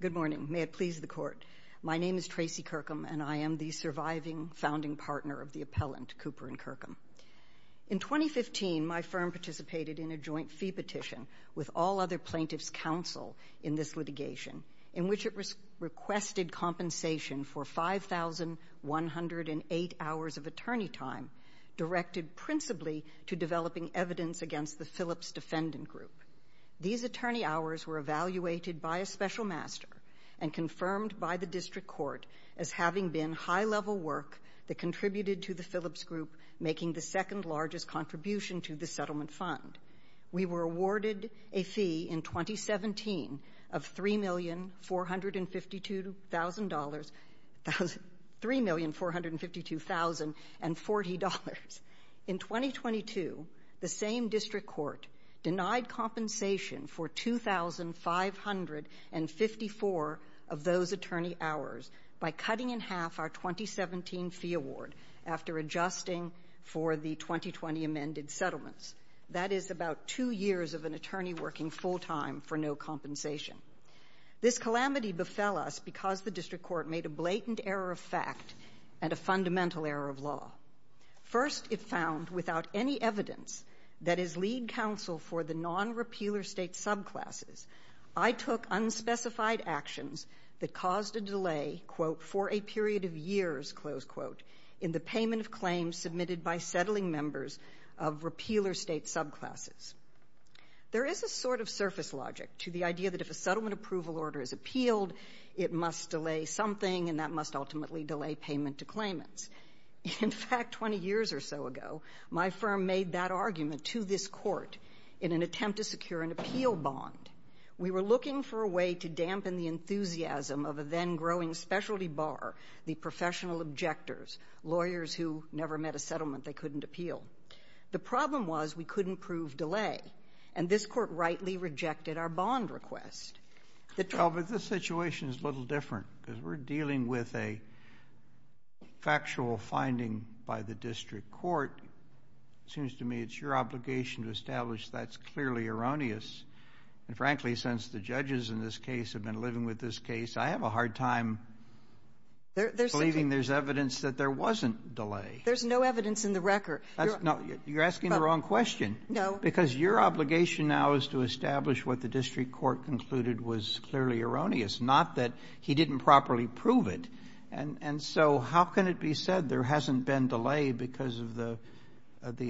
Good morning. May it please the Court. My name is Tracy Kirkham, and I am the surviving founding partner of the appellant, Cooper and Kirkham. In 2015, my firm participated in a joint fee petition with all other plaintiffs' counsel in this litigation, in which it requested compensation for 5,108 hours of attorney time directed principally to developing evidence against the Phillips Defendant Group. These attorney hours were evaluated by a special master and confirmed by the District Court as having been high-level work that contributed to the Phillips Group making the second-largest contribution to the settlement fund. We were awarded a fee in 2017 of $3,452,040. In 2022, the same District Court denied compensation for 2,554 of those attorney hours by cutting in half our 2017 fee award after adjusting for the 2020 amended settlements. That is about two years of an attorney working full-time for no compensation. This calamity befell us because the District Court made a blatant error of fact and a fundamental error of law. First, it found, without any evidence that is lead counsel for the non-repealer state subclasses, I took unspecified actions that caused a delay, quote, for a period of years, close quote, in the payment of claims submitted by settling members of repealer state subclasses. There is a sort of surface logic to the idea that if a settlement approval order is appealed, it must delay something, and that must ultimately delay payment to claimants. In fact, 20 years or so ago, my firm made that argument to this Court in an attempt to secure an appeal bond. We were looking for a way to dampen the enthusiasm of a then-growing specialty bar, the professional objectors, lawyers who never met a settlement they couldn't appeal. The problem was we couldn't prove delay, and this Court rightly rejected our bond request. Well, but the situation is a little different, because we're dealing with a factual finding by the District Court. It seems to me it's your obligation to establish that's clearly erroneous, and frankly, since the judges in this case have been living with this case, I have a hard time believing there's evidence that there wasn't delay. There's no evidence in the record. You're asking the wrong question, because your obligation now is to establish what the District Court concluded was clearly erroneous, not that he didn't properly prove it. And so how can it be said there hasn't been delay because of the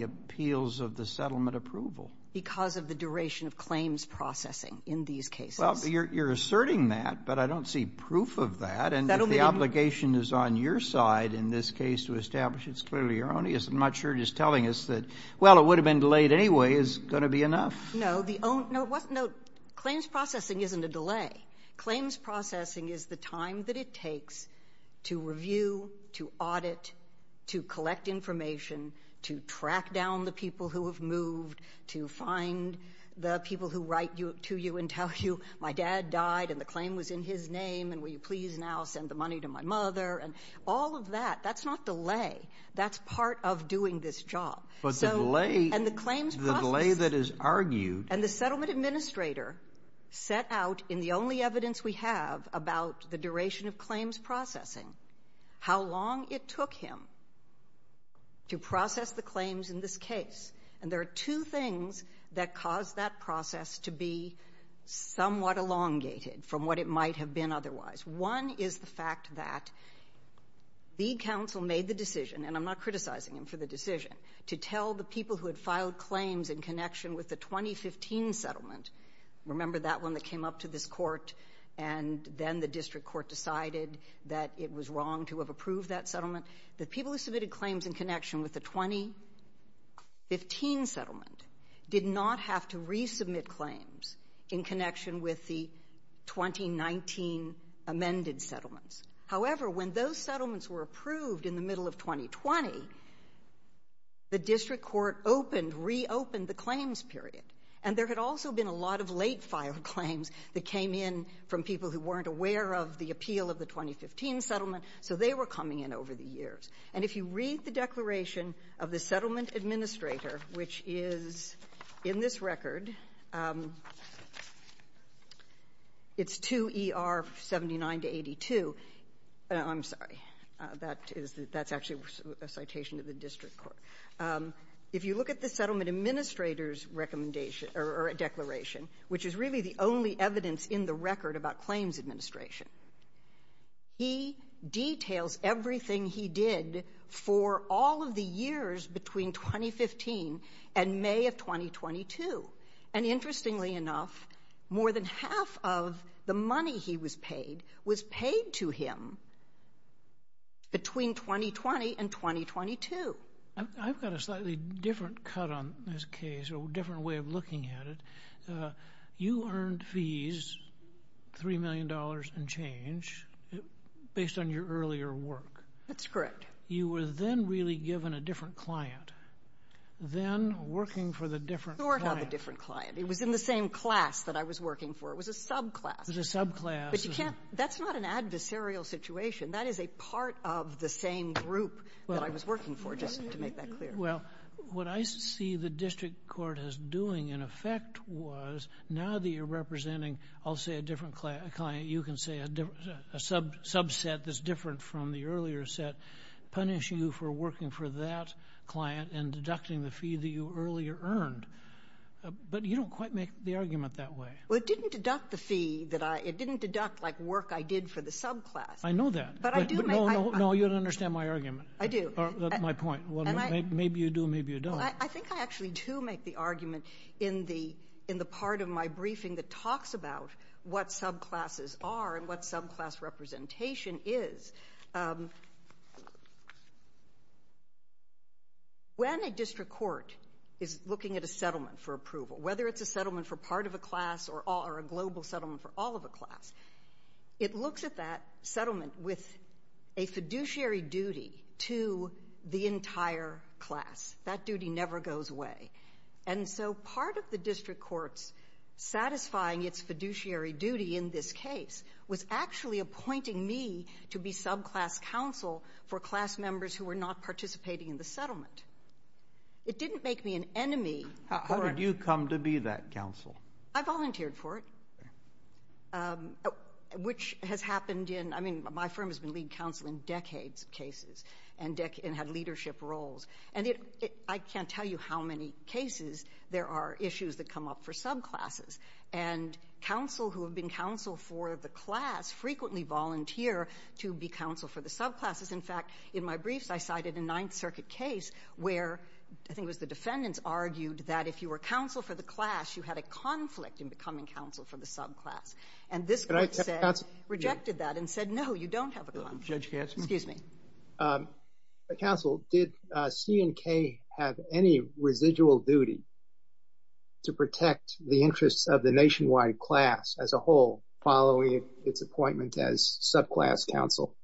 appeals of the settlement approval? Because of the duration of claims processing in these cases. Well, you're asserting that, but I don't see proof of that, and if the obligation is on your side in this case to establish it's clearly erroneous, I'm not sure it is telling us that, well, it would have been delayed anyway, is going to be enough. No, the own, no, what, no, claims processing isn't a delay. Claims processing is the time that it takes to review, to audit, to collect information, to track down the people who have moved, to find the people who write to you and tell you my dad died and the claim was in his name, and will you please now send the money to my mother, and all of that, that's not delay. That's part of doing this job. But the delay, the delay that is argued. And the settlement administrator set out in the only evidence we have about the duration of claims processing, how long it took him to process the claims in this case. And there are two things that caused that process to be somewhat elongated from what it might have been otherwise. One is the fact that the counsel made the decision, and I'm not criticizing him for the decision, to tell the people who had filed claims in connection with the 2015 settlement, remember that one that came up to this court and then the district court decided that it was wrong to have approved that settlement, the people who submitted claims in connection with the 2015 settlement did not have to resubmit claims in connection with the 2019 amended settlements. However, when those settlements were approved in the middle of 2020, the district court opened, reopened the claims period. And there had also been a lot of late filed claims that came in from people who weren't aware of the appeal of the 2015 settlement, so they were coming in over the years. And if you read the declaration of the settlement administrator, which is in this record, it's 2ER79-82, I'm sorry, that's actually a citation of the district court. If you look at the settlement administrator's declaration, which is really the only evidence in the record about claims administration, he details everything he did for all of the 2015 and May of 2022. And interestingly enough, more than half of the money he was paid was paid to him between 2020 and 2022. I've got a slightly different cut on this case, or a different way of looking at it. You earned fees, $3 million and change, based on your earlier work. That's correct. You were then really given a different client. Then, working for the different client. Not the different client. It was in the same class that I was working for. It was a subclass. It was a subclass. But you can't, that's not an adversarial situation. That is a part of the same group that I was working for, just to make that clear. Well, what I see the district court as doing, in effect, was now that you're representing, I'll say a different client, you can say a subset that's different from the earlier set, punishing you for working for that client and deducting the fee that you earlier earned. But you don't quite make the argument that way. Well, it didn't deduct the fee. It didn't deduct like work I did for the subclass. I know that, but no, you don't understand my argument, my point. Maybe you do, maybe you don't. I think I actually do make the argument in the part of my briefing that talks about what subclasses are and what subclass representation is. When a district court is looking at a settlement for approval, whether it's a settlement for part of a class or a global settlement for all of a class, it looks at that settlement with a fiduciary duty to the entire class. That duty never goes away. And so part of the district court's satisfying its fiduciary duty in this case was actually appointing me to be subclass counsel for class members who were not participating in the settlement. It didn't make me an enemy. How did you come to be that counsel? I volunteered for it, which has happened in—I mean, my firm has been lead counsel in decades of cases and had leadership roles. And I can't tell you how many cases there are issues that come up for subclasses. And counsel who have been counsel for the class frequently volunteer to be counsel for the subclasses. In fact, in my briefs, I cited a Ninth Circuit case where I think it was the defendants argued that if you were counsel for the class, you had a conflict in becoming counsel for the subclass. And this court said, rejected that and said, no, you don't have a conflict. Judge Gaskin. Excuse me. Counsel, did C&K have any residual duty to protect the interests of the nationwide class as a whole following its appointment as subclass counsel?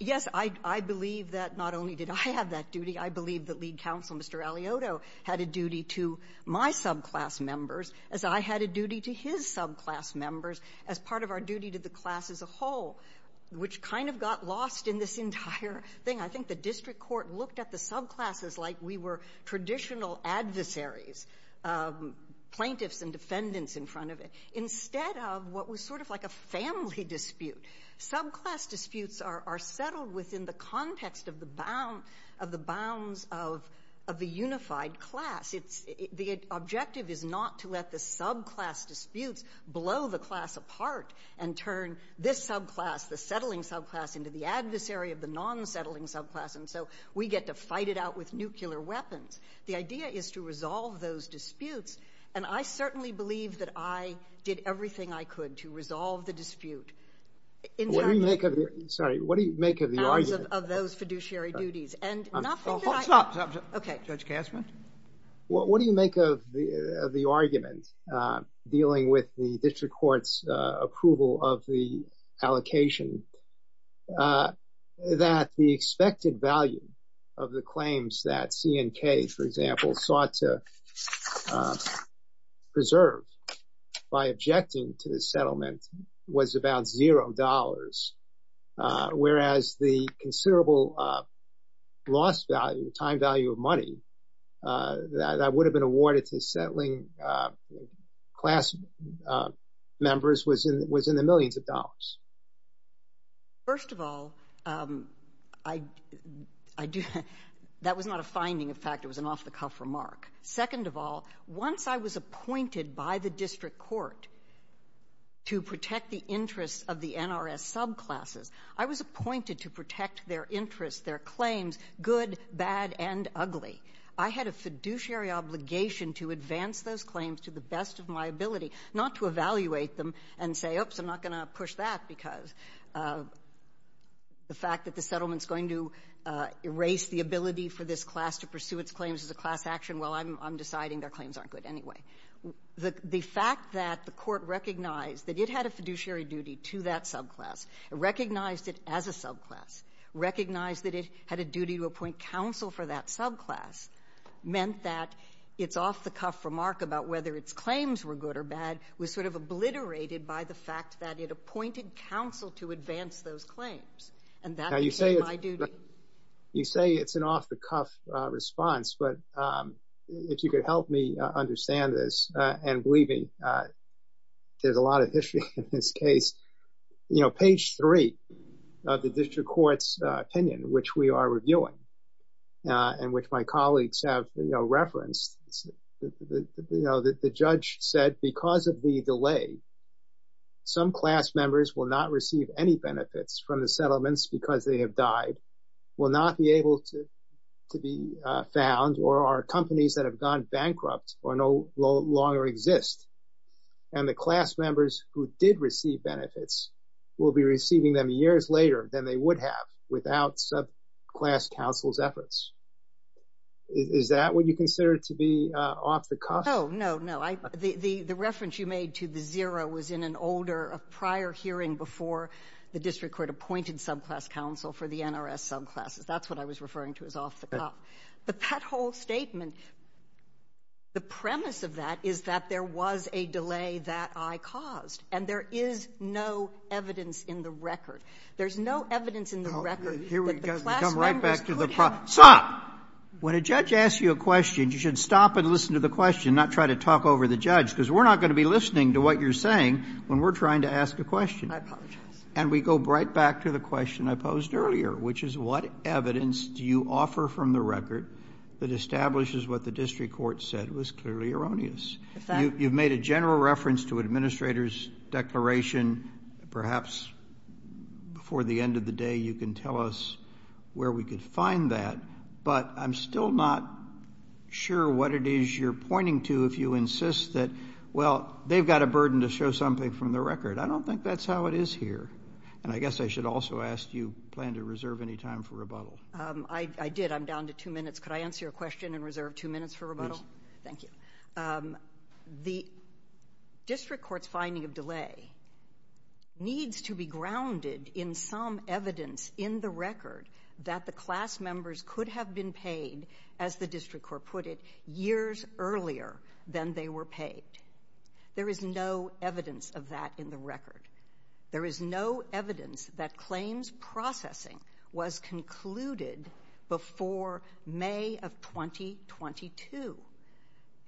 Yes, I believe that not only did I have that duty, I believe that lead counsel, Mr. Aliotto, had a duty to my subclass members as I had a duty to his subclass members as part of our duty to the class as a whole, which kind of got lost in this entire thing. I think the district court looked at the subclasses like we were traditional adversaries, plaintiffs and defendants in front of it, instead of what was sort of like a family dispute. Subclass disputes are settled within the context of the bounds of the unified class. The objective is not to let the subclass disputes blow the class apart and turn this subclass, the settling subclass, into the adversary of the non-settling subclass, and so we get to fight it out with nuclear weapons. The idea is to resolve those disputes, and I certainly believe that I did everything I could to resolve the dispute. What do you make of the argument dealing with the district court's approval of the allocation, that the expected value of the claims that C&K, for example, sought to preserve by objecting to the settlement was about $0, whereas the considerable loss value, time value of money that would have been awarded to settling class members was in the millions of dollars? First of all, that was not a finding. In fact, it was an off-the-cuff remark. Second of all, once I was appointed by the district court to protect the interests of the NRS subclasses, I was appointed to protect their interests, their claims, good, bad, and ugly. I had a fiduciary obligation to advance those claims to the best of my ability, not to evaluate them and say, oops, I'm not going to push that because the fact that the settlement is going to erase the ability for this class to pursue its claims as a class action, well, I'm deciding their claims aren't good anyway. The fact that the court recognized that it had a fiduciary duty to that subclass, recognized it as a subclass, recognized that it had a duty to appoint counsel for that subclass, meant that its off-the-cuff remark about whether its claims were good or bad was sort of obliterated by the fact that it appointed counsel to advance those claims, and that became my duty. You say it's an off-the-cuff response, but if you could help me understand this, and believe me, there's a lot of history in this case. You know, page three of the district court's opinion, which we are reviewing, and which my colleagues have referenced, the judge said, because of the delay, some class members will not receive any benefits from the settlements because they have died, will not be able to be found, or are companies that have gone bankrupt or no longer exist, and the class members who did receive benefits will be receiving them years later than they would have without subclass counsel's efforts. Is that what you consider to be off-the-cuff? No, no, no. The reference you made to the zero was in an older, a prior hearing before the district court appointed subclass counsel for the NRS subclasses. That's what I was referring to as off-the-cuff. The pothole statement, the premise of that is that there was a delay that I caused, and there is no evidence in the record. There's no evidence in the record that the class members could have been responsible Sotomayor, when a judge asks you a question, you should stop and listen to the question and not try to talk over the judge, because we're not going to be listening to what you're saying when we're trying to ask a question. I apologize. And we go right back to the question I posed earlier, which is what evidence do you offer from the record that establishes what the district court said was clearly erroneous? You've made a general reference to Administrator's declaration. Perhaps before the end of the day you can tell us where we could find that, but I'm still not sure what it is you're pointing to if you insist that, well, they've got a burden to show something from the record. I don't think that's how it is here. And I guess I should also ask, do you plan to reserve any time for rebuttal? I did. I'm down to two minutes. Could I answer your question and reserve two minutes for rebuttal? Thank you. The district court's finding of delay needs to be grounded in some evidence in the record that the class members could have been paid, as the district court put it, years earlier than they were paid. There is no evidence of that in the record. There is no evidence that claims processing was concluded before May of 2022,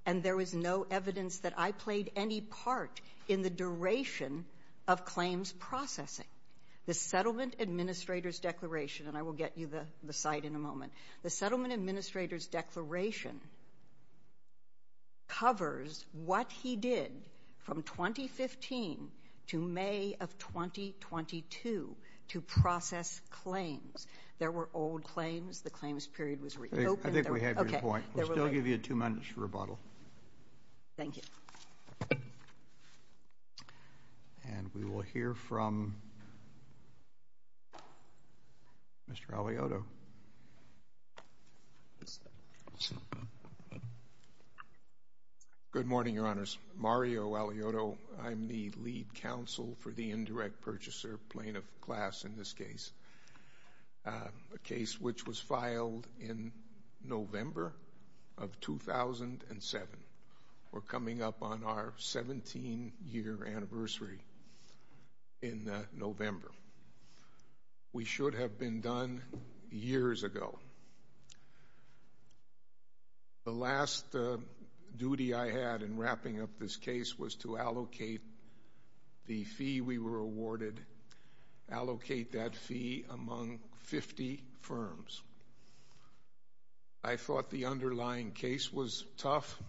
and there is no evidence that I played any part in the duration of claims processing. The settlement administrator's declaration, and I will get you the site in a moment, the settlement administrator's declaration covers what he did from 2015 to May of 2022 to process claims. There were old claims. The claims period was reopened. I think we have your point. We'll still give you two minutes for rebuttal. Thank you. And we will hear from Mr. Aliotto. Good morning, Your Honors. Mario Aliotto. I'm the lead counsel for the indirect purchaser plaintiff class in this case, a case which was filed in November of 2007. We're coming up on our 17-year anniversary in November. We should have been done years ago. The last duty I had in wrapping up this case was to allocate the fee we were awarded, allocate that fee among 50 firms. I thought the underlying case was tough.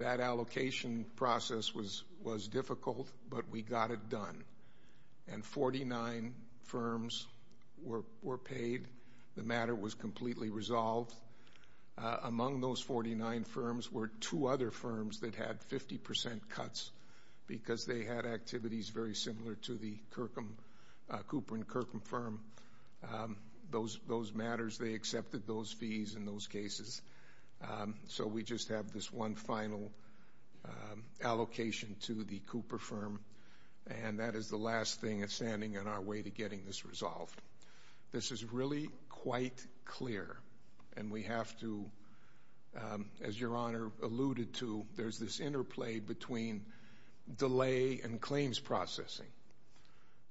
That allocation process was difficult, but we got it done. And 49 firms were paid. The matter was completely resolved. Among those 49 firms were two other firms that had 50% cuts because they had activities very similar to the Cooper & Kirkham firm. Those matters, they accepted those fees in those cases. So we just have this one final allocation to the Cooper firm, and that is the last thing that's standing in our way to getting this resolved. This is really quite clear, and we have to, as Your Honor alluded to, there's this interplay between delay and claims processing.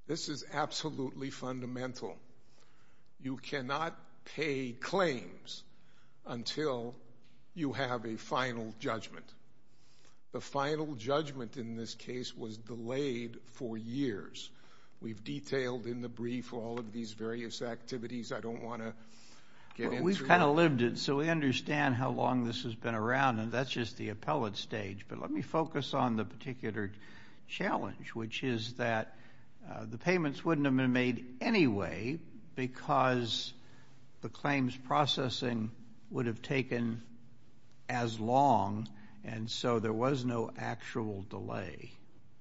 This is absolutely fundamental. You cannot pay claims until you have a final judgment. The final judgment in this case was delayed for years. We've detailed in the brief all of these various activities I don't want to get into. We've kind of lived it, so we understand how long this has been around, and that's just the appellate stage. But let me focus on the particular challenge, which is that the payments wouldn't have been made anyway because the claims processing would have taken as long, and so there was no actual delay.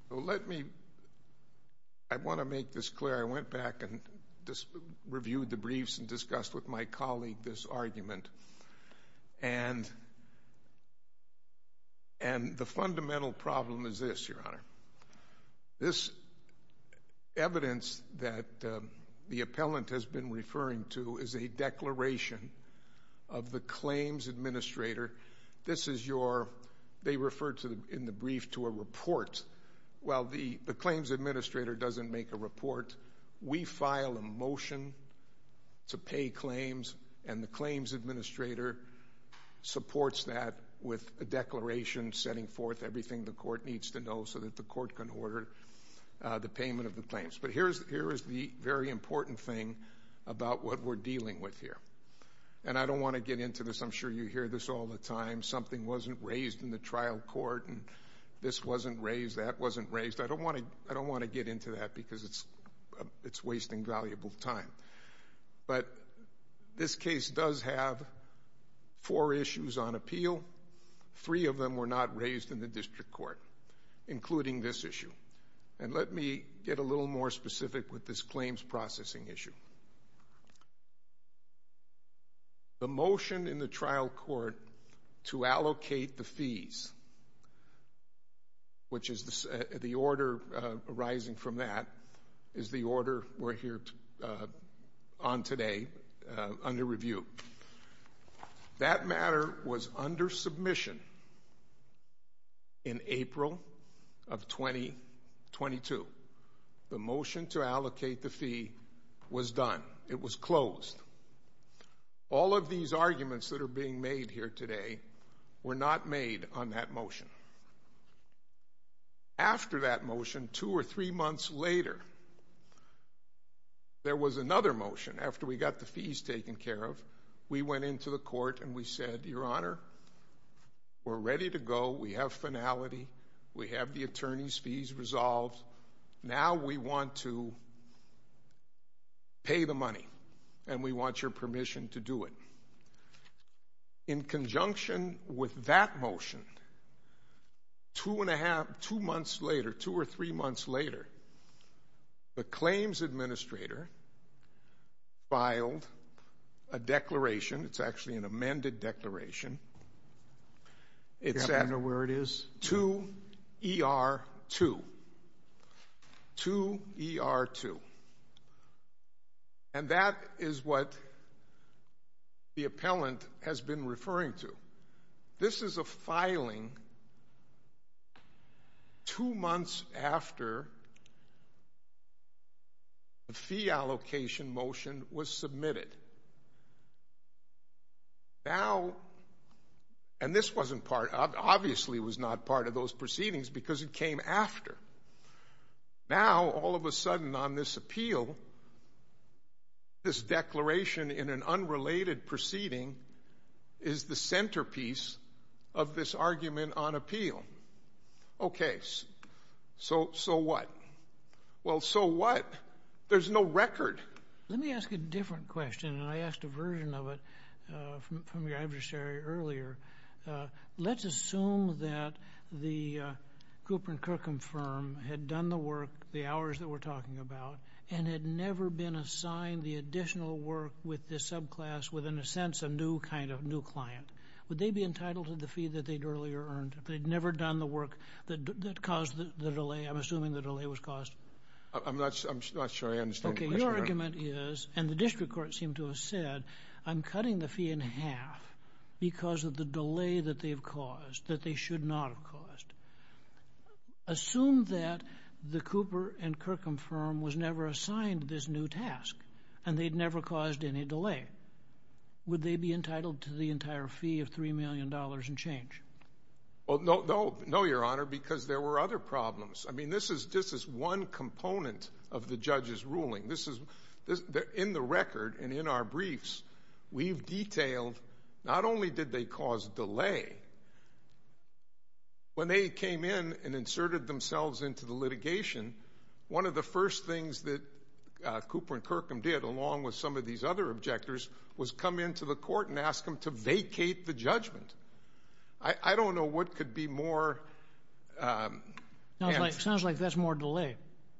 Let me, I want to make this clear. I went back and reviewed the briefs and discussed with my colleague this argument. And the fundamental problem is this, Your Honor. This evidence that the appellant has been referring to is a declaration of the claims administrator. This is your, they refer in the brief to a report. Well, the claims administrator doesn't make a report. We file a motion to pay claims, and the claims administrator supports that with a declaration setting forth everything the court needs to know so that the court can order the payment of the claims. But here is the very important thing about what we're dealing with here. And I don't want to get into this. I'm sure you hear this all the time. Something wasn't raised in the trial court, and this wasn't raised, that wasn't raised. I don't want to get into that because it's wasting valuable time. But this case does have four issues on appeal. Three of them were not raised in the district court, including this issue. And let me get a little more specific with this claims processing issue. The motion in the trial court to allocate the fees, which is the order arising from that, is the order we're here on today under review. That matter was under submission in April of 2022. The motion to allocate the fee was done. It was closed. All of these arguments that are being made here today were not made on that motion. After that motion, two or three months later, there was another motion. After we got the fees taken care of, we went into the court and we said, Your Honor, we're ready to go. We have finality. We have the attorney's fees resolved. Now we want to pay the money, and we want your permission to do it. In conjunction with that motion, two months later, two or three months later, the claims administrator filed a declaration. It's actually an amended declaration. Do you happen to know where it is? 2ER2. 2ER2. And that is what the appellant has been referring to. This is a filing two months after the fee allocation motion was submitted. Now, and this obviously was not part of those proceedings because it came after. Now, all of a sudden on this appeal, this declaration in an unrelated proceeding is the centerpiece of this argument on appeal. Okay, so what? Well, so what? There's no record. Let me ask a different question, and I asked a version of it from your adversary earlier. Let's assume that the Gruper and Kirkham firm had done the work, the hours that we're talking about, and had never been assigned the additional work with this subclass with, in a sense, a new kind of new client. Would they be entitled to the fee that they'd earlier earned if they'd never done the work that caused the delay? I'm assuming the delay was caused. I'm not sure I understand the question. Okay, your argument is, and the district court seemed to have said, I'm cutting the fee in half because of the delay that they've caused, that they should not have caused. Assume that the Gruper and Kirkham firm was never assigned this new task and they'd never caused any delay. Would they be entitled to the entire fee of $3 million and change? No, Your Honor, because there were other problems. I mean, this is one component of the judge's ruling. In the record and in our briefs, we've detailed not only did they cause delay, when they came in and inserted themselves into the litigation, one of the first things that Gruper and Kirkham did, along with some of these other objectors, was come into the court and ask them to vacate the judgment. I don't know what could be more. It sounds like that's more delay.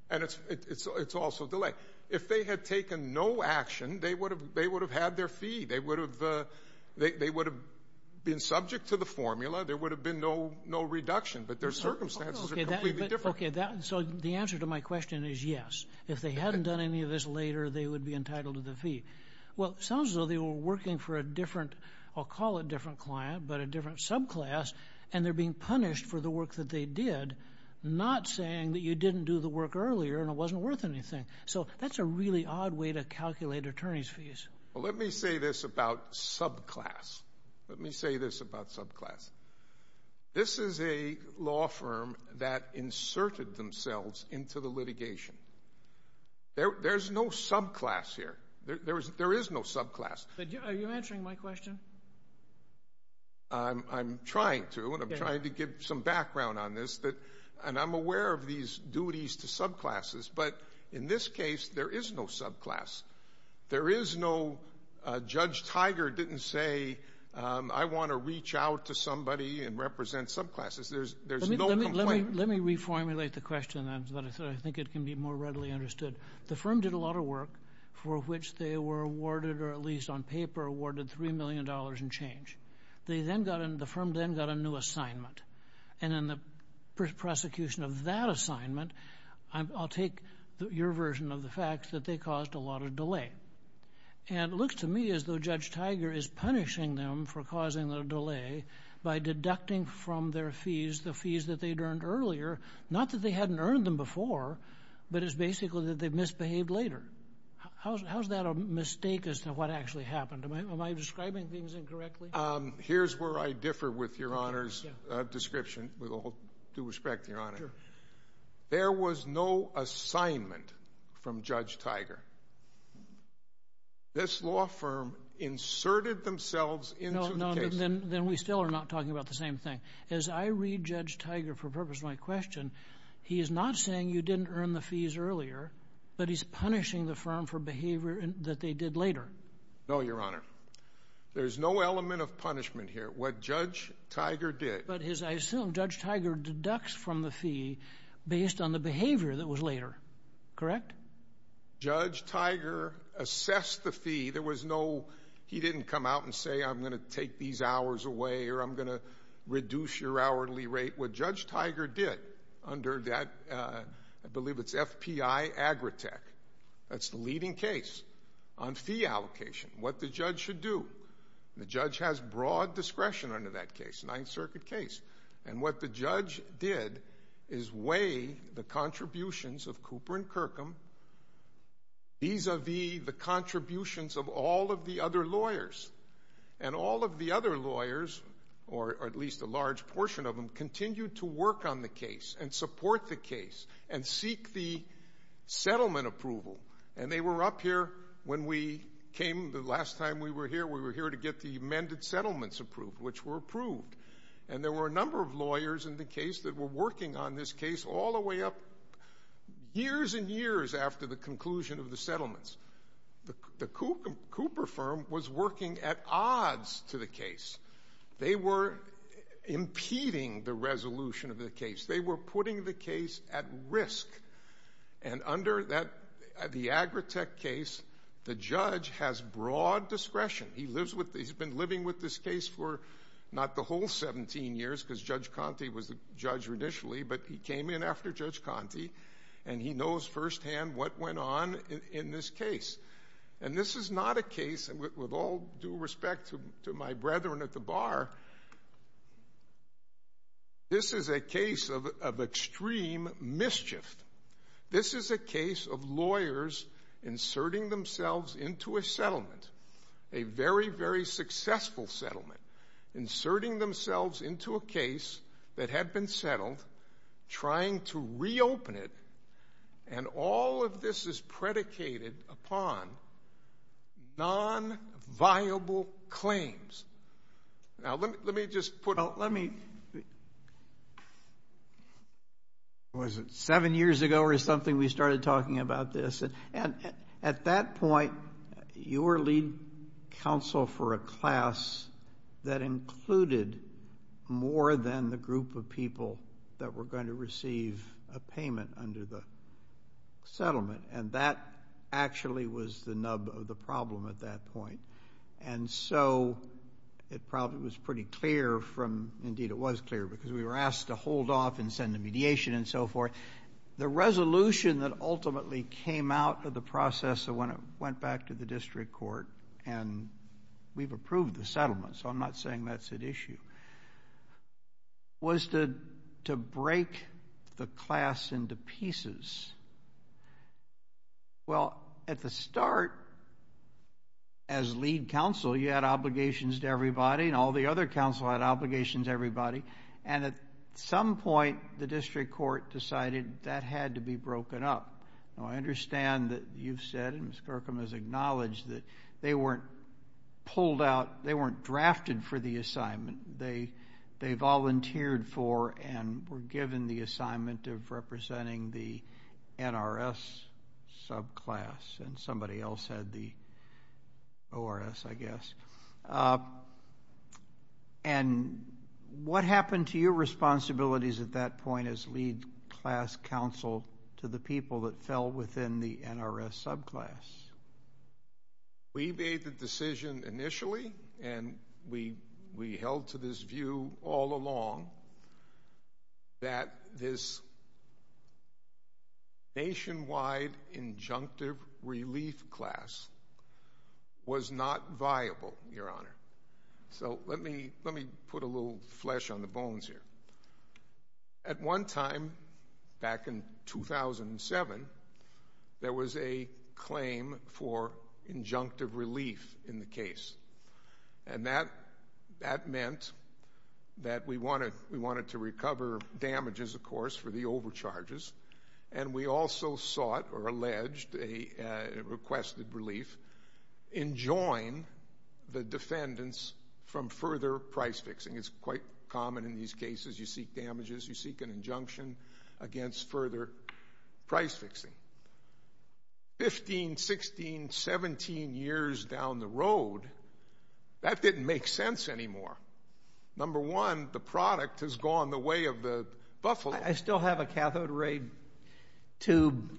And it's also delay. If they had taken no action, they would have had their fee. They would have been subject to the formula. There would have been no reduction. But their circumstances are completely different. Okay, so the answer to my question is yes. If they hadn't done any of this later, they would be entitled to the fee. Well, it sounds as though they were working for a different, I'll call it different client, but a different subclass, and they're being punished for the work that they did, not saying that you didn't do the work earlier and it wasn't worth anything. So that's a really odd way to calculate attorney's fees. Well, let me say this about subclass. Let me say this about subclass. This is a law firm that inserted themselves into the litigation. There's no subclass here. There is no subclass. Are you answering my question? I'm trying to, and I'm trying to give some background on this, and I'm aware of these duties to subclasses. But in this case, there is no subclass. There is no Judge Tiger didn't say, I want to reach out to somebody and represent subclasses. There's no complaint. Let me reformulate the question. I think it can be more readily understood. The firm did a lot of work for which they were awarded, or at least on paper awarded $3 million in change. The firm then got a new assignment. And in the prosecution of that assignment, I'll take your version of the fact that they caused a lot of delay. And it looks to me as though Judge Tiger is punishing them for causing the delay by deducting from their fees the fees that they'd earned earlier, not that they hadn't earned them before, but it's basically that they misbehaved later. How is that a mistake as to what actually happened? Am I describing things incorrectly? Here's where I differ with your honors. With all due respect, Your Honor, there was no assignment from Judge Tiger. This law firm inserted themselves into the case. Then we still are not talking about the same thing. As I read Judge Tiger for the purpose of my question, he is not saying you didn't earn the fees earlier, but he's punishing the firm for behavior that they did later. No, Your Honor. There's no element of punishment here. What Judge Tiger did— But I assume Judge Tiger deducts from the fee based on the behavior that was later. Correct? Judge Tiger assessed the fee. There was no—he didn't come out and say, I'm going to take these hours away or I'm going to reduce your hourly rate. What Judge Tiger did under that—I believe it's FPI-Agritech. That's the leading case on fee allocation, what the judge should do. The judge has broad discretion under that case, Ninth Circuit case. What the judge did is weigh the contributions of Cooper and Kirkham vis-a-vis the contributions of all of the other lawyers. All of the other lawyers, or at least a large portion of them, continued to work on the case and support the case and seek the settlement approval. They were up here when we came the last time we were here. We were here to get the amended settlements approved, which were approved. There were a number of lawyers in the case that were working on this case all the way up years and years after the conclusion of the settlements. The Cooper firm was working at odds to the case. They were impeding the resolution of the case. They were putting the case at risk. Under the Agritech case, the judge has broad discretion. He's been living with this case for not the whole 17 years because Judge Conte was the judge initially, but he came in after Judge Conte and he knows firsthand what went on in this case. This is not a case, with all due respect to my brethren at the bar, this is a case of extreme mischief. This is a case of lawyers inserting themselves into a settlement, a very, very successful settlement, inserting themselves into a case that had been settled, trying to reopen it, and all of this is predicated upon non-viable claims. Now, let me just put it. Was it seven years ago or something we started talking about this? At that point, you were lead counsel for a class that included more than the group of people that were going to receive a payment under the settlement, and that actually was the nub of the problem at that point. And so it probably was pretty clear from, indeed it was clear, because we were asked to hold off and send the mediation and so forth. The resolution that ultimately came out of the process when it went back to the district court, and we've approved the settlement, so I'm not saying that's at issue, was to break the class into pieces. Well, at the start, as lead counsel, you had obligations to everybody, and all the other counsel had obligations to everybody, and at some point the district court decided that had to be broken up. Now, I understand that you've said and Ms. Kirkham has acknowledged that they weren't pulled out, they weren't drafted for the assignment. They volunteered for and were given the assignment of representing the NRS subclass, and somebody else had the ORS, I guess. And what happened to your responsibilities at that point as lead class counsel to the people that fell within the NRS subclass? We made the decision initially, and we held to this view all along, that this nationwide injunctive relief class was not viable, Your Honor. So let me put a little flesh on the bones here. At one time, back in 2007, there was a claim for injunctive relief in the case, and that meant that we wanted to recover damages, of course, for the overcharges, and we also sought or alleged a requested relief in joining the defendants from further price fixing. It's quite common in these cases. You seek damages, you seek an injunction against further price fixing. Fifteen, sixteen, seventeen years down the road, that didn't make sense anymore. Number one, the product has gone the way of the buffalo. I still have a cathode ray tube,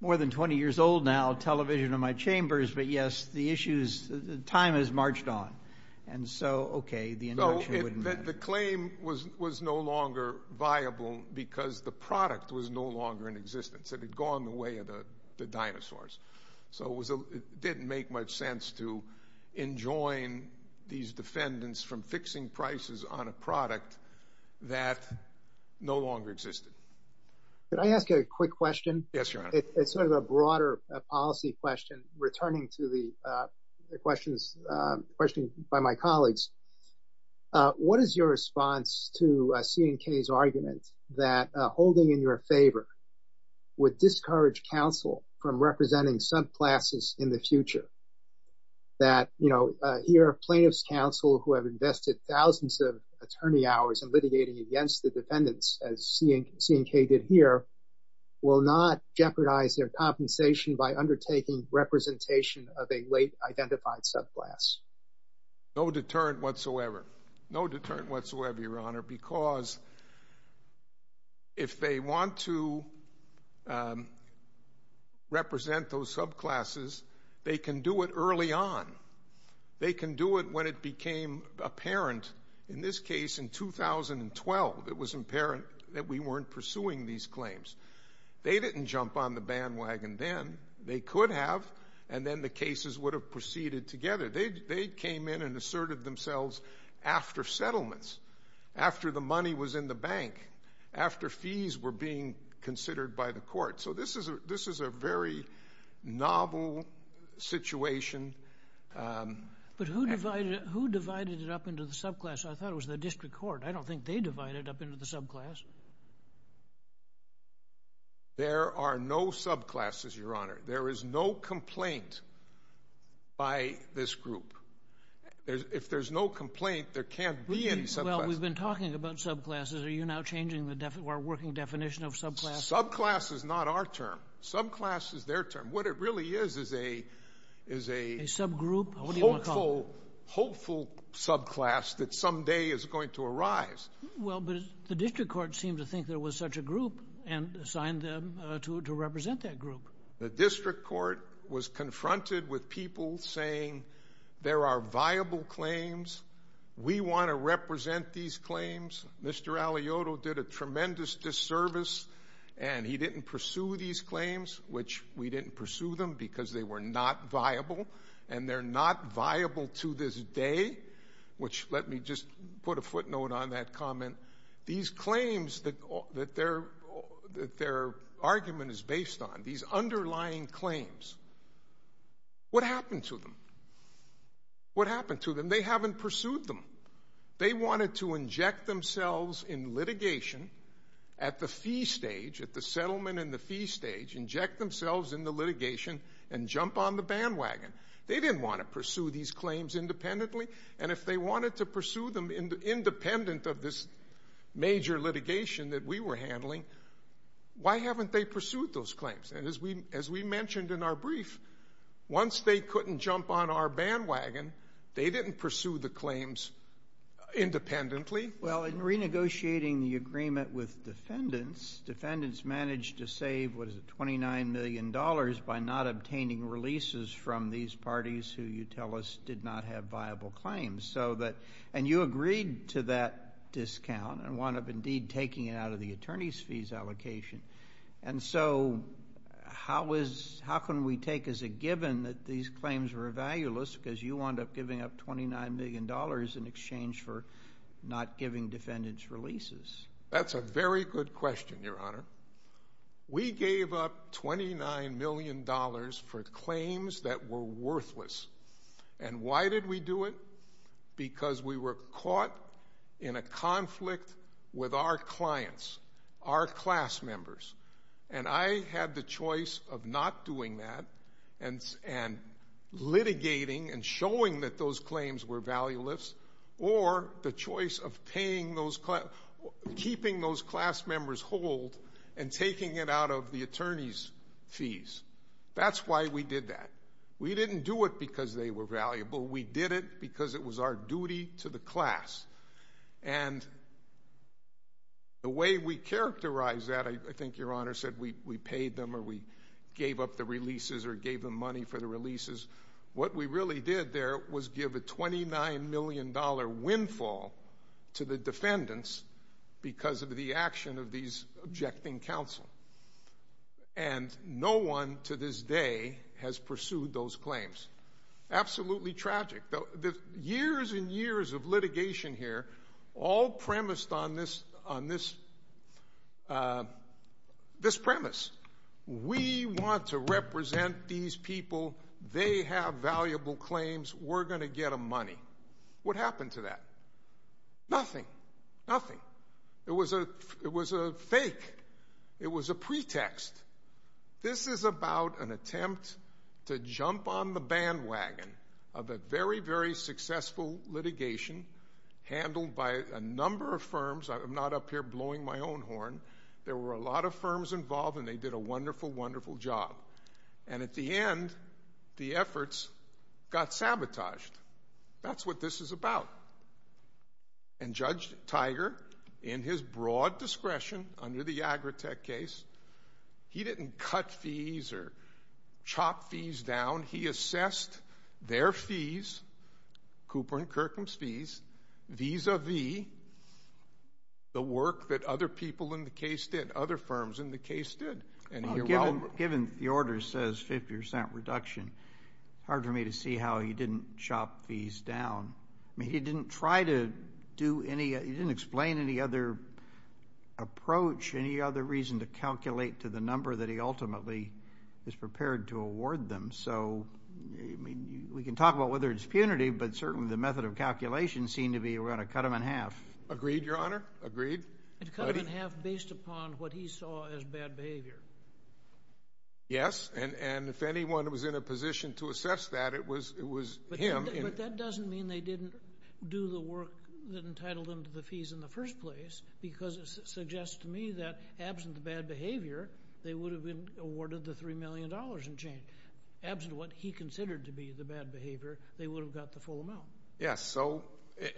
more than 20 years old now, television in my chambers, but, yes, the time has marched on, and so, okay, the injunction wouldn't matter. The claim was no longer viable because the product was no longer in existence. It had gone the way of the dinosaurs. So it didn't make much sense to enjoin these defendants from fixing prices on a product that no longer existed. Could I ask a quick question? Yes, Your Honor. It's sort of a broader policy question, returning to the questions by my colleagues. What is your response to C&K's argument that holding in your favor would discourage counsel from representing subclasses in the future? That, you know, here are plaintiffs' counsel who have invested thousands of attorney hours in litigating against the defendants, as C&K did here, will not jeopardize their compensation by undertaking representation of a late identified subclass? No deterrent whatsoever. No deterrent whatsoever, Your Honor, because if they want to represent those subclasses, they can do it early on. They can do it when it became apparent, in this case, in 2012, it was apparent that we weren't pursuing these claims. They didn't jump on the bandwagon then. They could have, and then the cases would have proceeded together. They came in and asserted themselves after settlements, after the money was in the bank, after fees were being considered by the court. So this is a very novel situation. But who divided it up into the subclass? I thought it was the district court. I don't think they divided it up into the subclass. There are no subclasses, Your Honor. There is no complaint by this group. If there's no complaint, there can't be any subclasses. Well, we've been talking about subclasses. Are you now changing our working definition of subclass? Subclass is not our term. Subclass is their term. What it really is is a hopeful subclass that someday is going to arise. Well, but the district court seemed to think there was such a group and assigned them to represent that group. The district court was confronted with people saying there are viable claims. We want to represent these claims. Mr. Alioto did a tremendous disservice, and he didn't pursue these claims, which we didn't pursue them because they were not viable, and they're not viable to this day, which let me just put a footnote on that comment. These claims that their argument is based on, these underlying claims, what happened to them? What happened to them? They haven't pursued them. They wanted to inject themselves in litigation at the fee stage, at the settlement and the fee stage, inject themselves in the litigation and jump on the bandwagon. They didn't want to pursue these claims independently, and if they wanted to pursue them independent of this major litigation that we were handling, why haven't they pursued those claims? And as we mentioned in our brief, once they couldn't jump on our bandwagon, they didn't pursue the claims independently. Well, in renegotiating the agreement with defendants, defendants managed to save, what is it, $29 million by not obtaining releases from these parties who you tell us did not have viable claims, and you agreed to that discount and wound up indeed taking it out of the attorney's fees allocation, and so how can we take as a given that these claims were valueless because you wound up giving up $29 million in exchange for not giving defendants releases? That's a very good question, Your Honor. We gave up $29 million for claims that were worthless, and why did we do it? Because we were caught in a conflict with our clients, our class members, and I had the choice of not doing that and litigating and showing that those claims were valueless or the choice of keeping those class members hold and taking it out of the attorney's fees. That's why we did that. We didn't do it because they were valuable. We did it because it was our duty to the class, and the way we characterized that, I think Your Honor said we paid them or we gave up the releases or gave them money for the releases. What we really did there was give a $29 million windfall to the defendants because of the action of these objecting counsel, and no one to this day has pursued those claims. Absolutely tragic. The years and years of litigation here all premised on this premise. We want to represent these people. They have valuable claims. We're going to get them money. What happened to that? Nothing, nothing. It was a fake. It was a pretext. This is about an attempt to jump on the bandwagon of a very, very successful litigation handled by a number of firms. I'm not up here blowing my own horn. There were a lot of firms involved, and they did a wonderful, wonderful job. And at the end, the efforts got sabotaged. That's what this is about. And Judge Tiger, in his broad discretion under the Agritech case, he didn't cut fees or chop fees down. He assessed their fees, Cooper and Kirkham's fees, vis-a-vis the work that other people in the case did, other firms in the case did. Given the order says 50% reduction, it's hard for me to see how he didn't chop fees down. I mean, he didn't try to do any of it. He didn't explain any other approach, any other reason to calculate to the number that he ultimately is prepared to award them. So we can talk about whether it's punitive, but certainly the method of calculation seemed to be we're going to cut them in half. Agreed, Your Honor? Agreed? Cut them in half based upon what he saw as bad behavior. Yes, and if anyone was in a position to assess that, it was him. But that doesn't mean they didn't do the work that entitled them to the fees in the first place because it suggests to me that absent the bad behavior, they would have been awarded the $3 million in change. Absent what he considered to be the bad behavior, they would have got the full amount. Yes,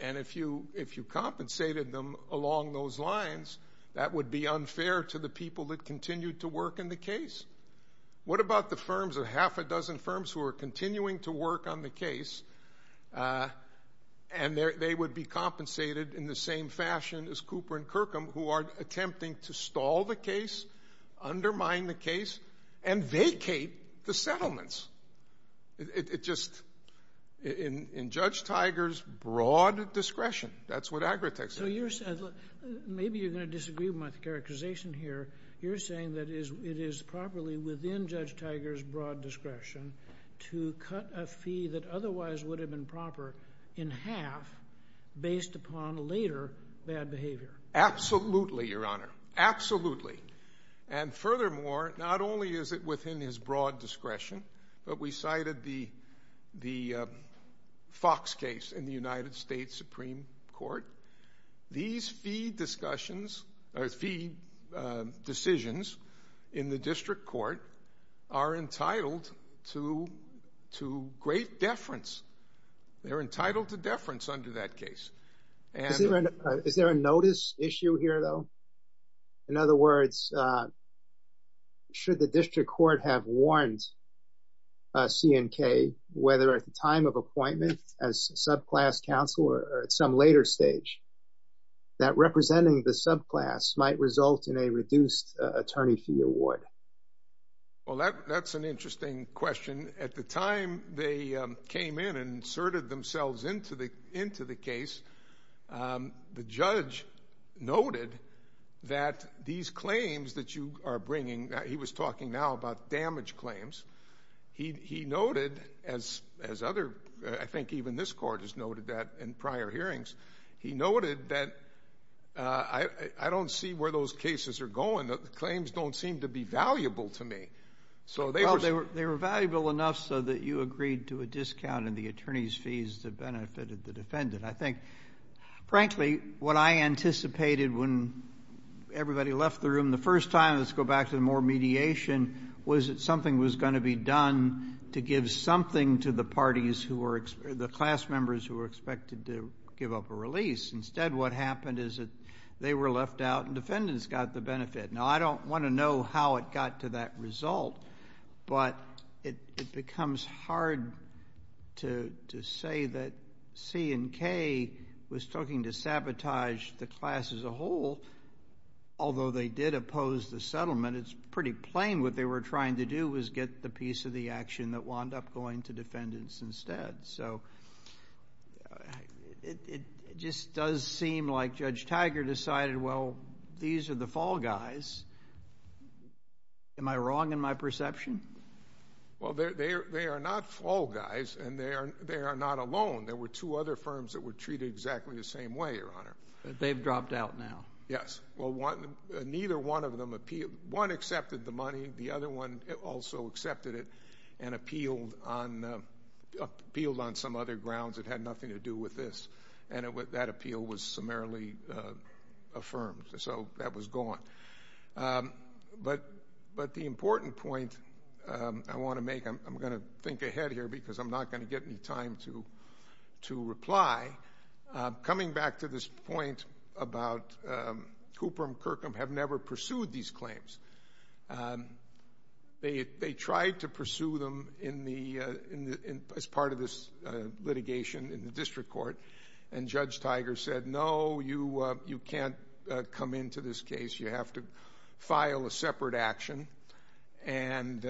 and if you compensated them along those lines, that would be unfair to the people that continued to work in the case. What about the firms, the half a dozen firms who are continuing to work on the case and they would be compensated in the same fashion as Cooper and Kirkham who are attempting to stall the case, undermine the case, and vacate the settlements? It just, in Judge Tiger's broad discretion, that's what Agritech said. Maybe you're going to disagree with my characterization here. You're saying that it is properly within Judge Tiger's broad discretion to cut a fee that otherwise would have been proper in half based upon later bad behavior. Absolutely, Your Honor, absolutely. And furthermore, not only is it within his broad discretion, but we cited the Fox case in the United States Supreme Court. These fee decisions in the district court are entitled to great deference. They're entitled to deference under that case. Is there a notice issue here, though? In other words, should the district court have warned C&K, whether at the time of appointment as subclass counsel or at some later stage, that representing the subclass might result in a reduced attorney fee award? Well, that's an interesting question. At the time they came in and inserted themselves into the case, the judge noted that these claims that you are bringing, he was talking now about damage claims, he noted, as other, I think even this court has noted that in prior hearings, he noted that I don't see where those cases are going. The claims don't seem to be valuable to me. Well, they were valuable enough so that you agreed to a discount in the attorney's fees that benefited the defendant. I think, frankly, what I anticipated when everybody left the room the first time, let's go back to the more mediation, was that something was going to be done to give something to the parties, the class members who were expected to give up a release. Instead, what happened is that they were left out and defendants got the benefit. Now, I don't want to know how it got to that result, but it becomes hard to say that C and K was talking to sabotage the class as a whole, although they did oppose the settlement. It's pretty plain what they were trying to do was get the piece of the action that wound up going to defendants instead. So it just does seem like Judge Tiger decided, well, these are the fall guys. Am I wrong in my perception? Well, they are not fall guys, and they are not alone. There were two other firms that were treated exactly the same way, Your Honor. But they've dropped out now. Yes. Well, neither one of them appealed. One accepted the money. The other one also accepted it and appealed on some other grounds. It had nothing to do with this. And that appeal was summarily affirmed. So that was gone. But the important point I want to make, I'm going to think ahead here because I'm not going to get any time to reply. Coming back to this point about Cooper and Kirkham have never pursued these claims. They tried to pursue them as part of this litigation in the district court, and Judge Tiger said, no, you can't come into this case. You have to file a separate action and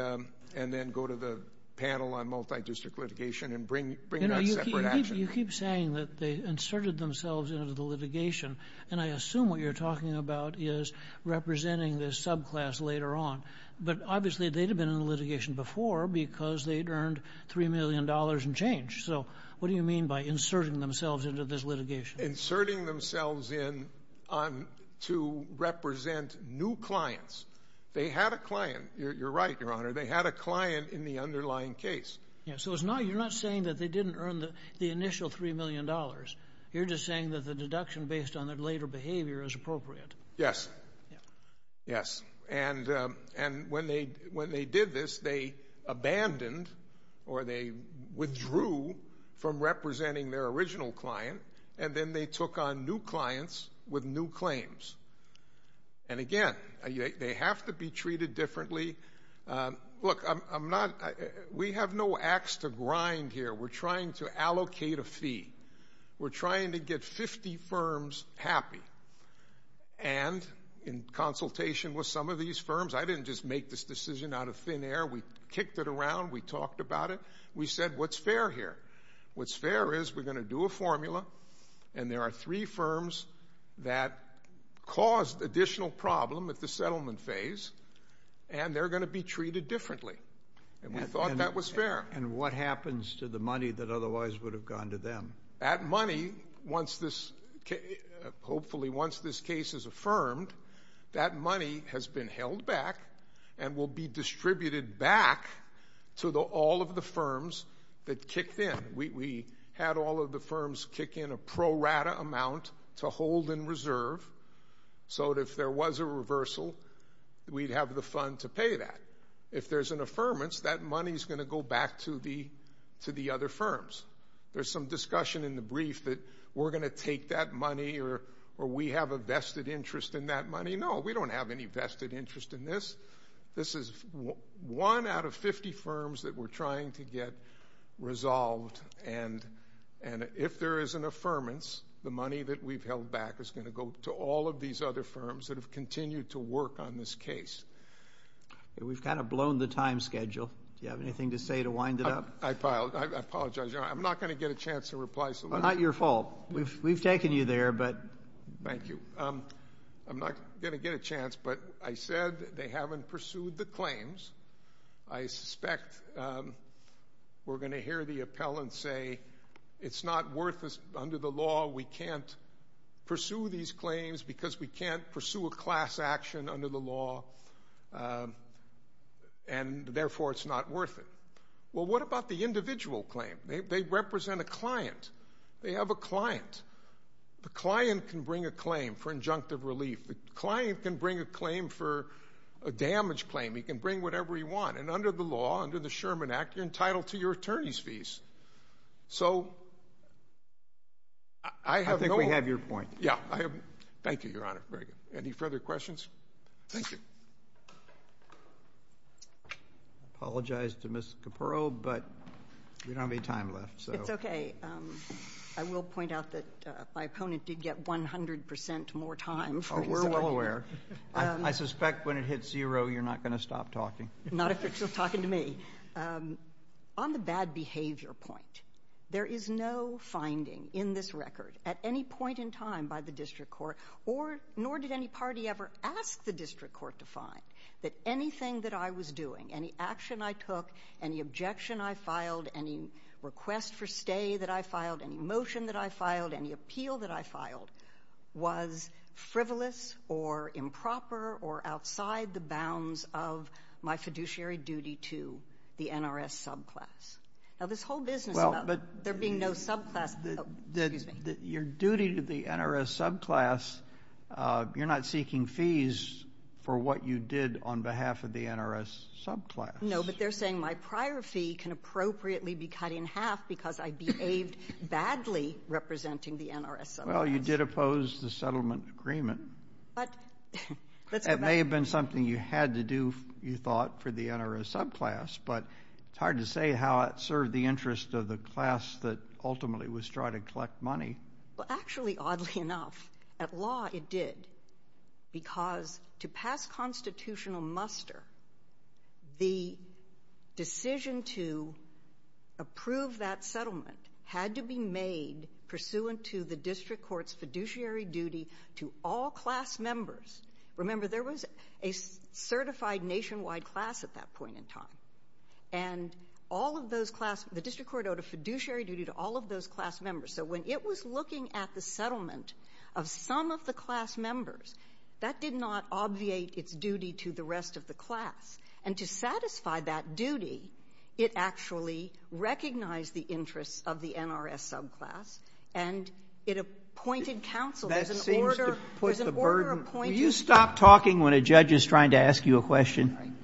then go to the panel on multidistrict litigation and bring that separate action. You keep saying that they inserted themselves into the litigation, and I assume what you're talking about is representing this subclass later on. But obviously they'd have been in the litigation before because they'd earned $3 million and change. So what do you mean by inserting themselves into this litigation? Inserting themselves in to represent new clients. They had a client. You're right, Your Honor. They had a client in the underlying case. So you're not saying that they didn't earn the initial $3 million. You're just saying that the deduction based on their later behavior is appropriate. Yes. Yes. And when they did this, they abandoned or they withdrew from representing their original client, and then they took on new clients with new claims. And again, they have to be treated differently. Look, we have no ax to grind here. We're trying to allocate a fee. We're trying to get 50 firms happy. And in consultation with some of these firms, I didn't just make this decision out of thin air. We kicked it around. We talked about it. We said what's fair here. What's fair is we're going to do a formula, and there are three firms that caused additional problem at the settlement phase, and they're going to be treated differently. And we thought that was fair. And what happens to the money that otherwise would have gone to them? That money, hopefully once this case is affirmed, that money has been held back and will be distributed back to all of the firms that kicked in. We had all of the firms kick in a pro rata amount to hold in reserve so that if there was a reversal, we'd have the fund to pay that. If there's an affirmance, that money is going to go back to the other firms. There's some discussion in the brief that we're going to take that money or we have a vested interest in that money. No, we don't have any vested interest in this. This is one out of 50 firms that we're trying to get resolved. And if there is an affirmance, the money that we've held back is going to go to all of these other firms that have continued to work on this case. We've kind of blown the time schedule. Do you have anything to say to wind it up? I apologize. I'm not going to get a chance to reply. Not your fault. We've taken you there, but. Thank you. I'm not going to get a chance, but I said they haven't pursued the claims. I suspect we're going to hear the appellant say, it's not worth it. Under the law, we can't pursue these claims because we can't pursue a class action under the law, and therefore it's not worth it. Well, what about the individual claim? They represent a client. They have a client. The client can bring a claim for injunctive relief. The client can bring a claim for a damage claim. He can bring whatever he wants. And under the law, under the Sherman Act, you're entitled to your attorney's fees. So I have no. I think we have your point. Yeah. Thank you, Your Honor. Very good. Any further questions? Thank you. Apologize to Ms. Capurro, but we don't have any time left. It's okay. I will point out that my opponent did get 100% more time. We're well aware. I suspect when it hits zero, you're not going to stop talking. Not if you're still talking to me. On the bad behavior point, there is no finding in this record at any point in time by the district court, nor did any party ever ask the district court to find, that anything that I was doing, any action I took, any objection I filed, any request for stay that I filed, any motion that I filed, any appeal that I filed, was frivolous or improper or outside the bounds of my fiduciary duty to the NRS subclass. Now, this whole business about there being no subclass. Your duty to the NRS subclass, you're not seeking fees for what you did on behalf of the NRS subclass. No, but they're saying my prior fee can appropriately be cut in half because I behaved badly representing the NRS subclass. Well, you did oppose the settlement agreement. It may have been something you had to do, you thought, for the NRS subclass, but it's hard to say how it served the interest of the class that ultimately was trying to collect money. Well, actually, oddly enough, at law it did because to pass constitutional muster, the decision to approve that settlement had to be made pursuant to the district court's fiduciary duty to all class members. Remember, there was a certified nationwide class at that point in time. And all of those class, the district court owed a fiduciary duty to all of those class members. So when it was looking at the settlement of some of the class members, that did not obviate its duty to the rest of the class. And to satisfy that duty, it actually recognized the interests of the NRS subclass and it appointed counsel. That seems to put the burden. Will you stop talking when a judge is trying to ask you a question?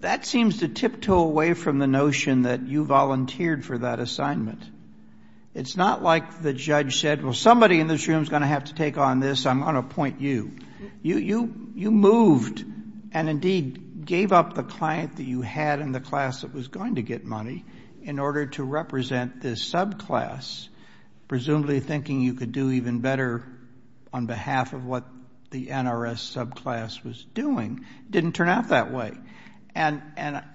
That seems to tiptoe away from the notion that you volunteered for that assignment. It's not like the judge said, well, somebody in this room is going to have to take on this. I'm going to appoint you. You moved and, indeed, gave up the client that you had in the class that was going to get money in order to represent this subclass, presumably thinking you could do even better on behalf of what the NRS subclass was doing. It didn't turn out that way. And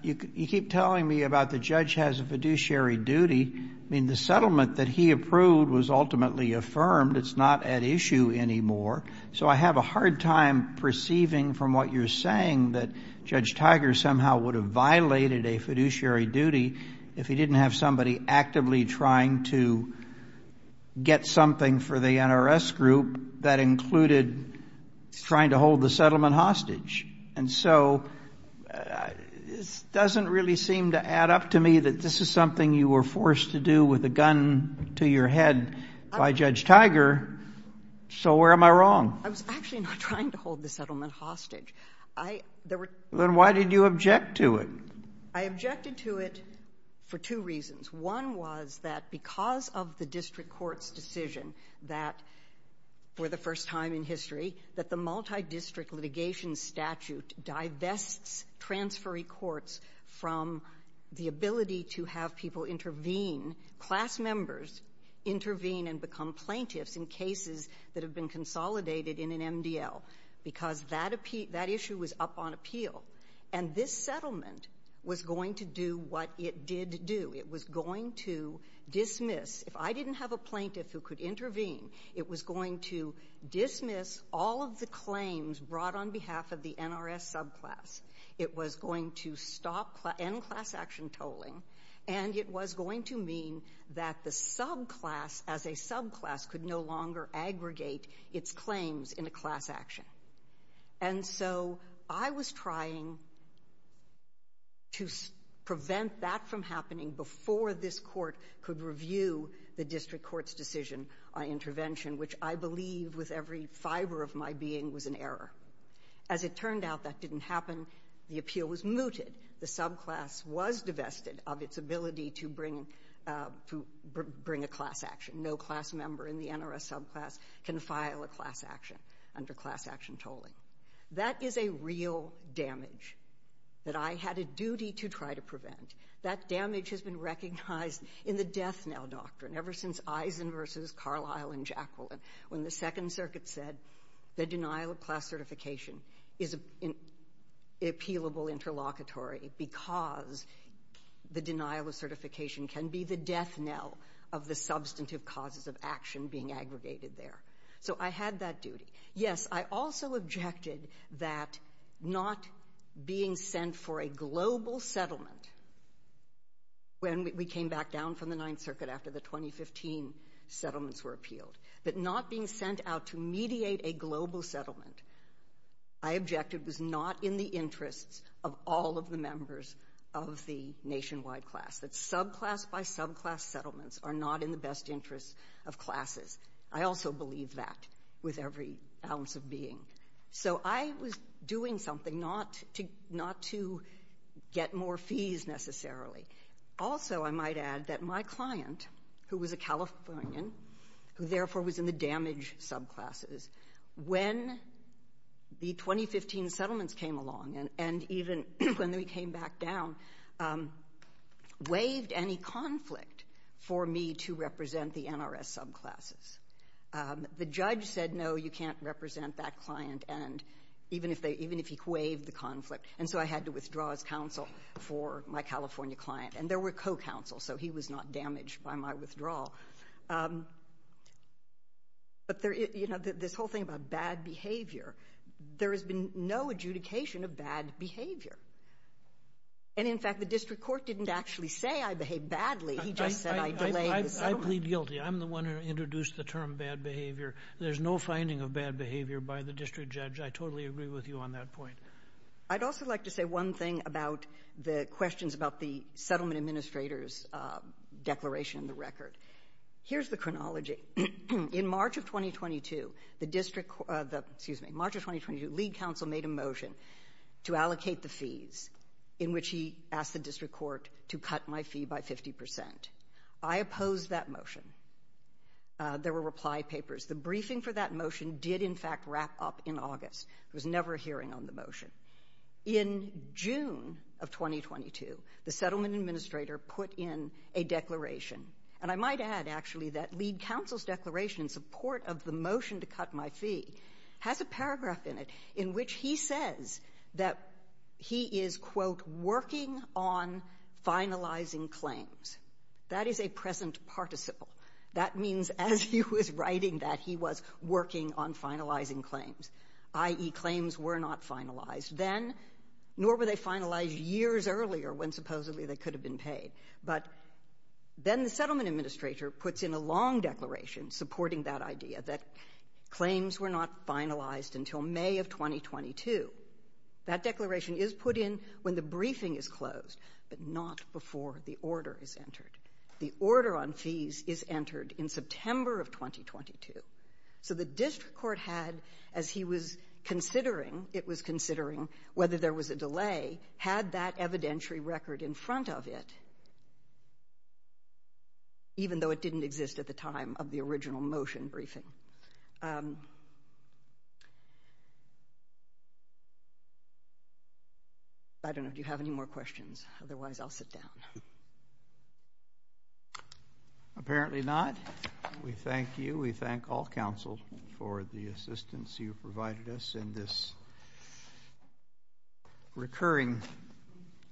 you keep telling me about the judge has a fiduciary duty. I mean, the settlement that he approved was ultimately affirmed. It's not at issue anymore. So I have a hard time perceiving from what you're saying that Judge Tiger somehow would have violated a fiduciary duty if he didn't have somebody actively trying to get something for the NRS group that included trying to hold the settlement hostage. And so this doesn't really seem to add up to me that this is something you were forced to do with a gun to your head by Judge Tiger, so where am I wrong? I was actually not trying to hold the settlement hostage. Then why did you object to it? I objected to it for two reasons. One was that because of the district court's decision that for the first time in history that the multidistrict litigation statute divests transferee courts from the ability to have people intervene, class members intervene and become plaintiffs in cases that have been consolidated in an MDL because that issue was up on appeal. And this settlement was going to do what it did do. It was going to dismiss. If I didn't have a plaintiff who could intervene, it was going to dismiss all of the claims brought on behalf of the NRS subclass. It was going to stop N-class action tolling, and it was going to mean that the subclass as a subclass could no longer aggregate its claims in a class action. And so I was trying to prevent that from happening before this court could review the district court's decision on intervention, which I believe with every fibre of my being was an error. As it turned out, that didn't happen. The appeal was mooted. The subclass was divested of its ability to bring a class action. No class member in the NRS subclass can file a class action under class action tolling. That is a real damage that I had a duty to try to prevent. That damage has been recognized in the death knell doctrine ever since Eisen v. Carlisle and Jacqueline, when the Second Circuit said the denial of class certification is an appealable interlocutory because the denial of certification can be the death knell of the substantive causes of action being aggregated there. So I had that duty. Yes, I also objected that not being sent for a global settlement when we came back down from the Ninth Circuit after the 2015 settlements were appealed, that not being sent out to mediate a global settlement, I objected was not in the interests of all of the members of the nationwide class, that subclass by subclass settlements are not in the best interest of classes. I also believe that with every ounce of being. So I was doing something not to get more fees necessarily. Also, I might add that my client, who was a Californian, who therefore was in the damaged subclasses, when the 2015 settlements came along and even when we came back down, waived any conflict for me to represent the NRS subclasses. The judge said, no, you can't represent that client, even if he waived the conflict. And so I had to withdraw as counsel for my California client. And there were co-counsels, so he was not damaged by my withdrawal. But this whole thing about bad behavior, there has been no adjudication of bad behavior. And, in fact, the district court didn't actually say I behaved badly. He just said I delayed the settlement. I plead guilty. I'm the one who introduced the term bad behavior. There's no finding of bad behavior by the district judge. I totally agree with you on that point. I'd also like to say one thing about the questions about the settlement administrator's declaration in the record. Here's the chronology. In March of 2022, the district, excuse me, in March of 2022, lead counsel made a motion to allocate the fees in which he asked the district court to cut my fee by 50%. I opposed that motion. There were reply papers. The briefing for that motion did, in fact, wrap up in August. There was never a hearing on the motion. In June of 2022, the settlement administrator put in a declaration. And I might add, actually, that lead counsel's declaration in support of the motion to cut my fee has a paragraph in it in which he says that he is, quote, working on finalizing claims. That is a present participle. That means as he was writing that, he was working on finalizing claims, i.e. claims were not finalized then, nor were they finalized years earlier when supposedly they could have been paid. But then the settlement administrator puts in a long declaration supporting that idea that claims were not finalized until May of 2022. That declaration is put in when the briefing is closed, but not before the order is entered. The order on fees is entered in September of 2022. So the district court had, as he was considering, it was considering whether there was a delay, had that evidentiary record in front of it, even though it didn't exist at the time of the original motion briefing. I don't know if you have any more questions. Otherwise, I'll sit down. Apparently not. We thank you. We thank all counsel for the assistance you've provided us in this recurring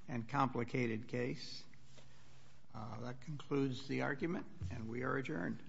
and complicated case. That concludes the argument, and we are adjourned.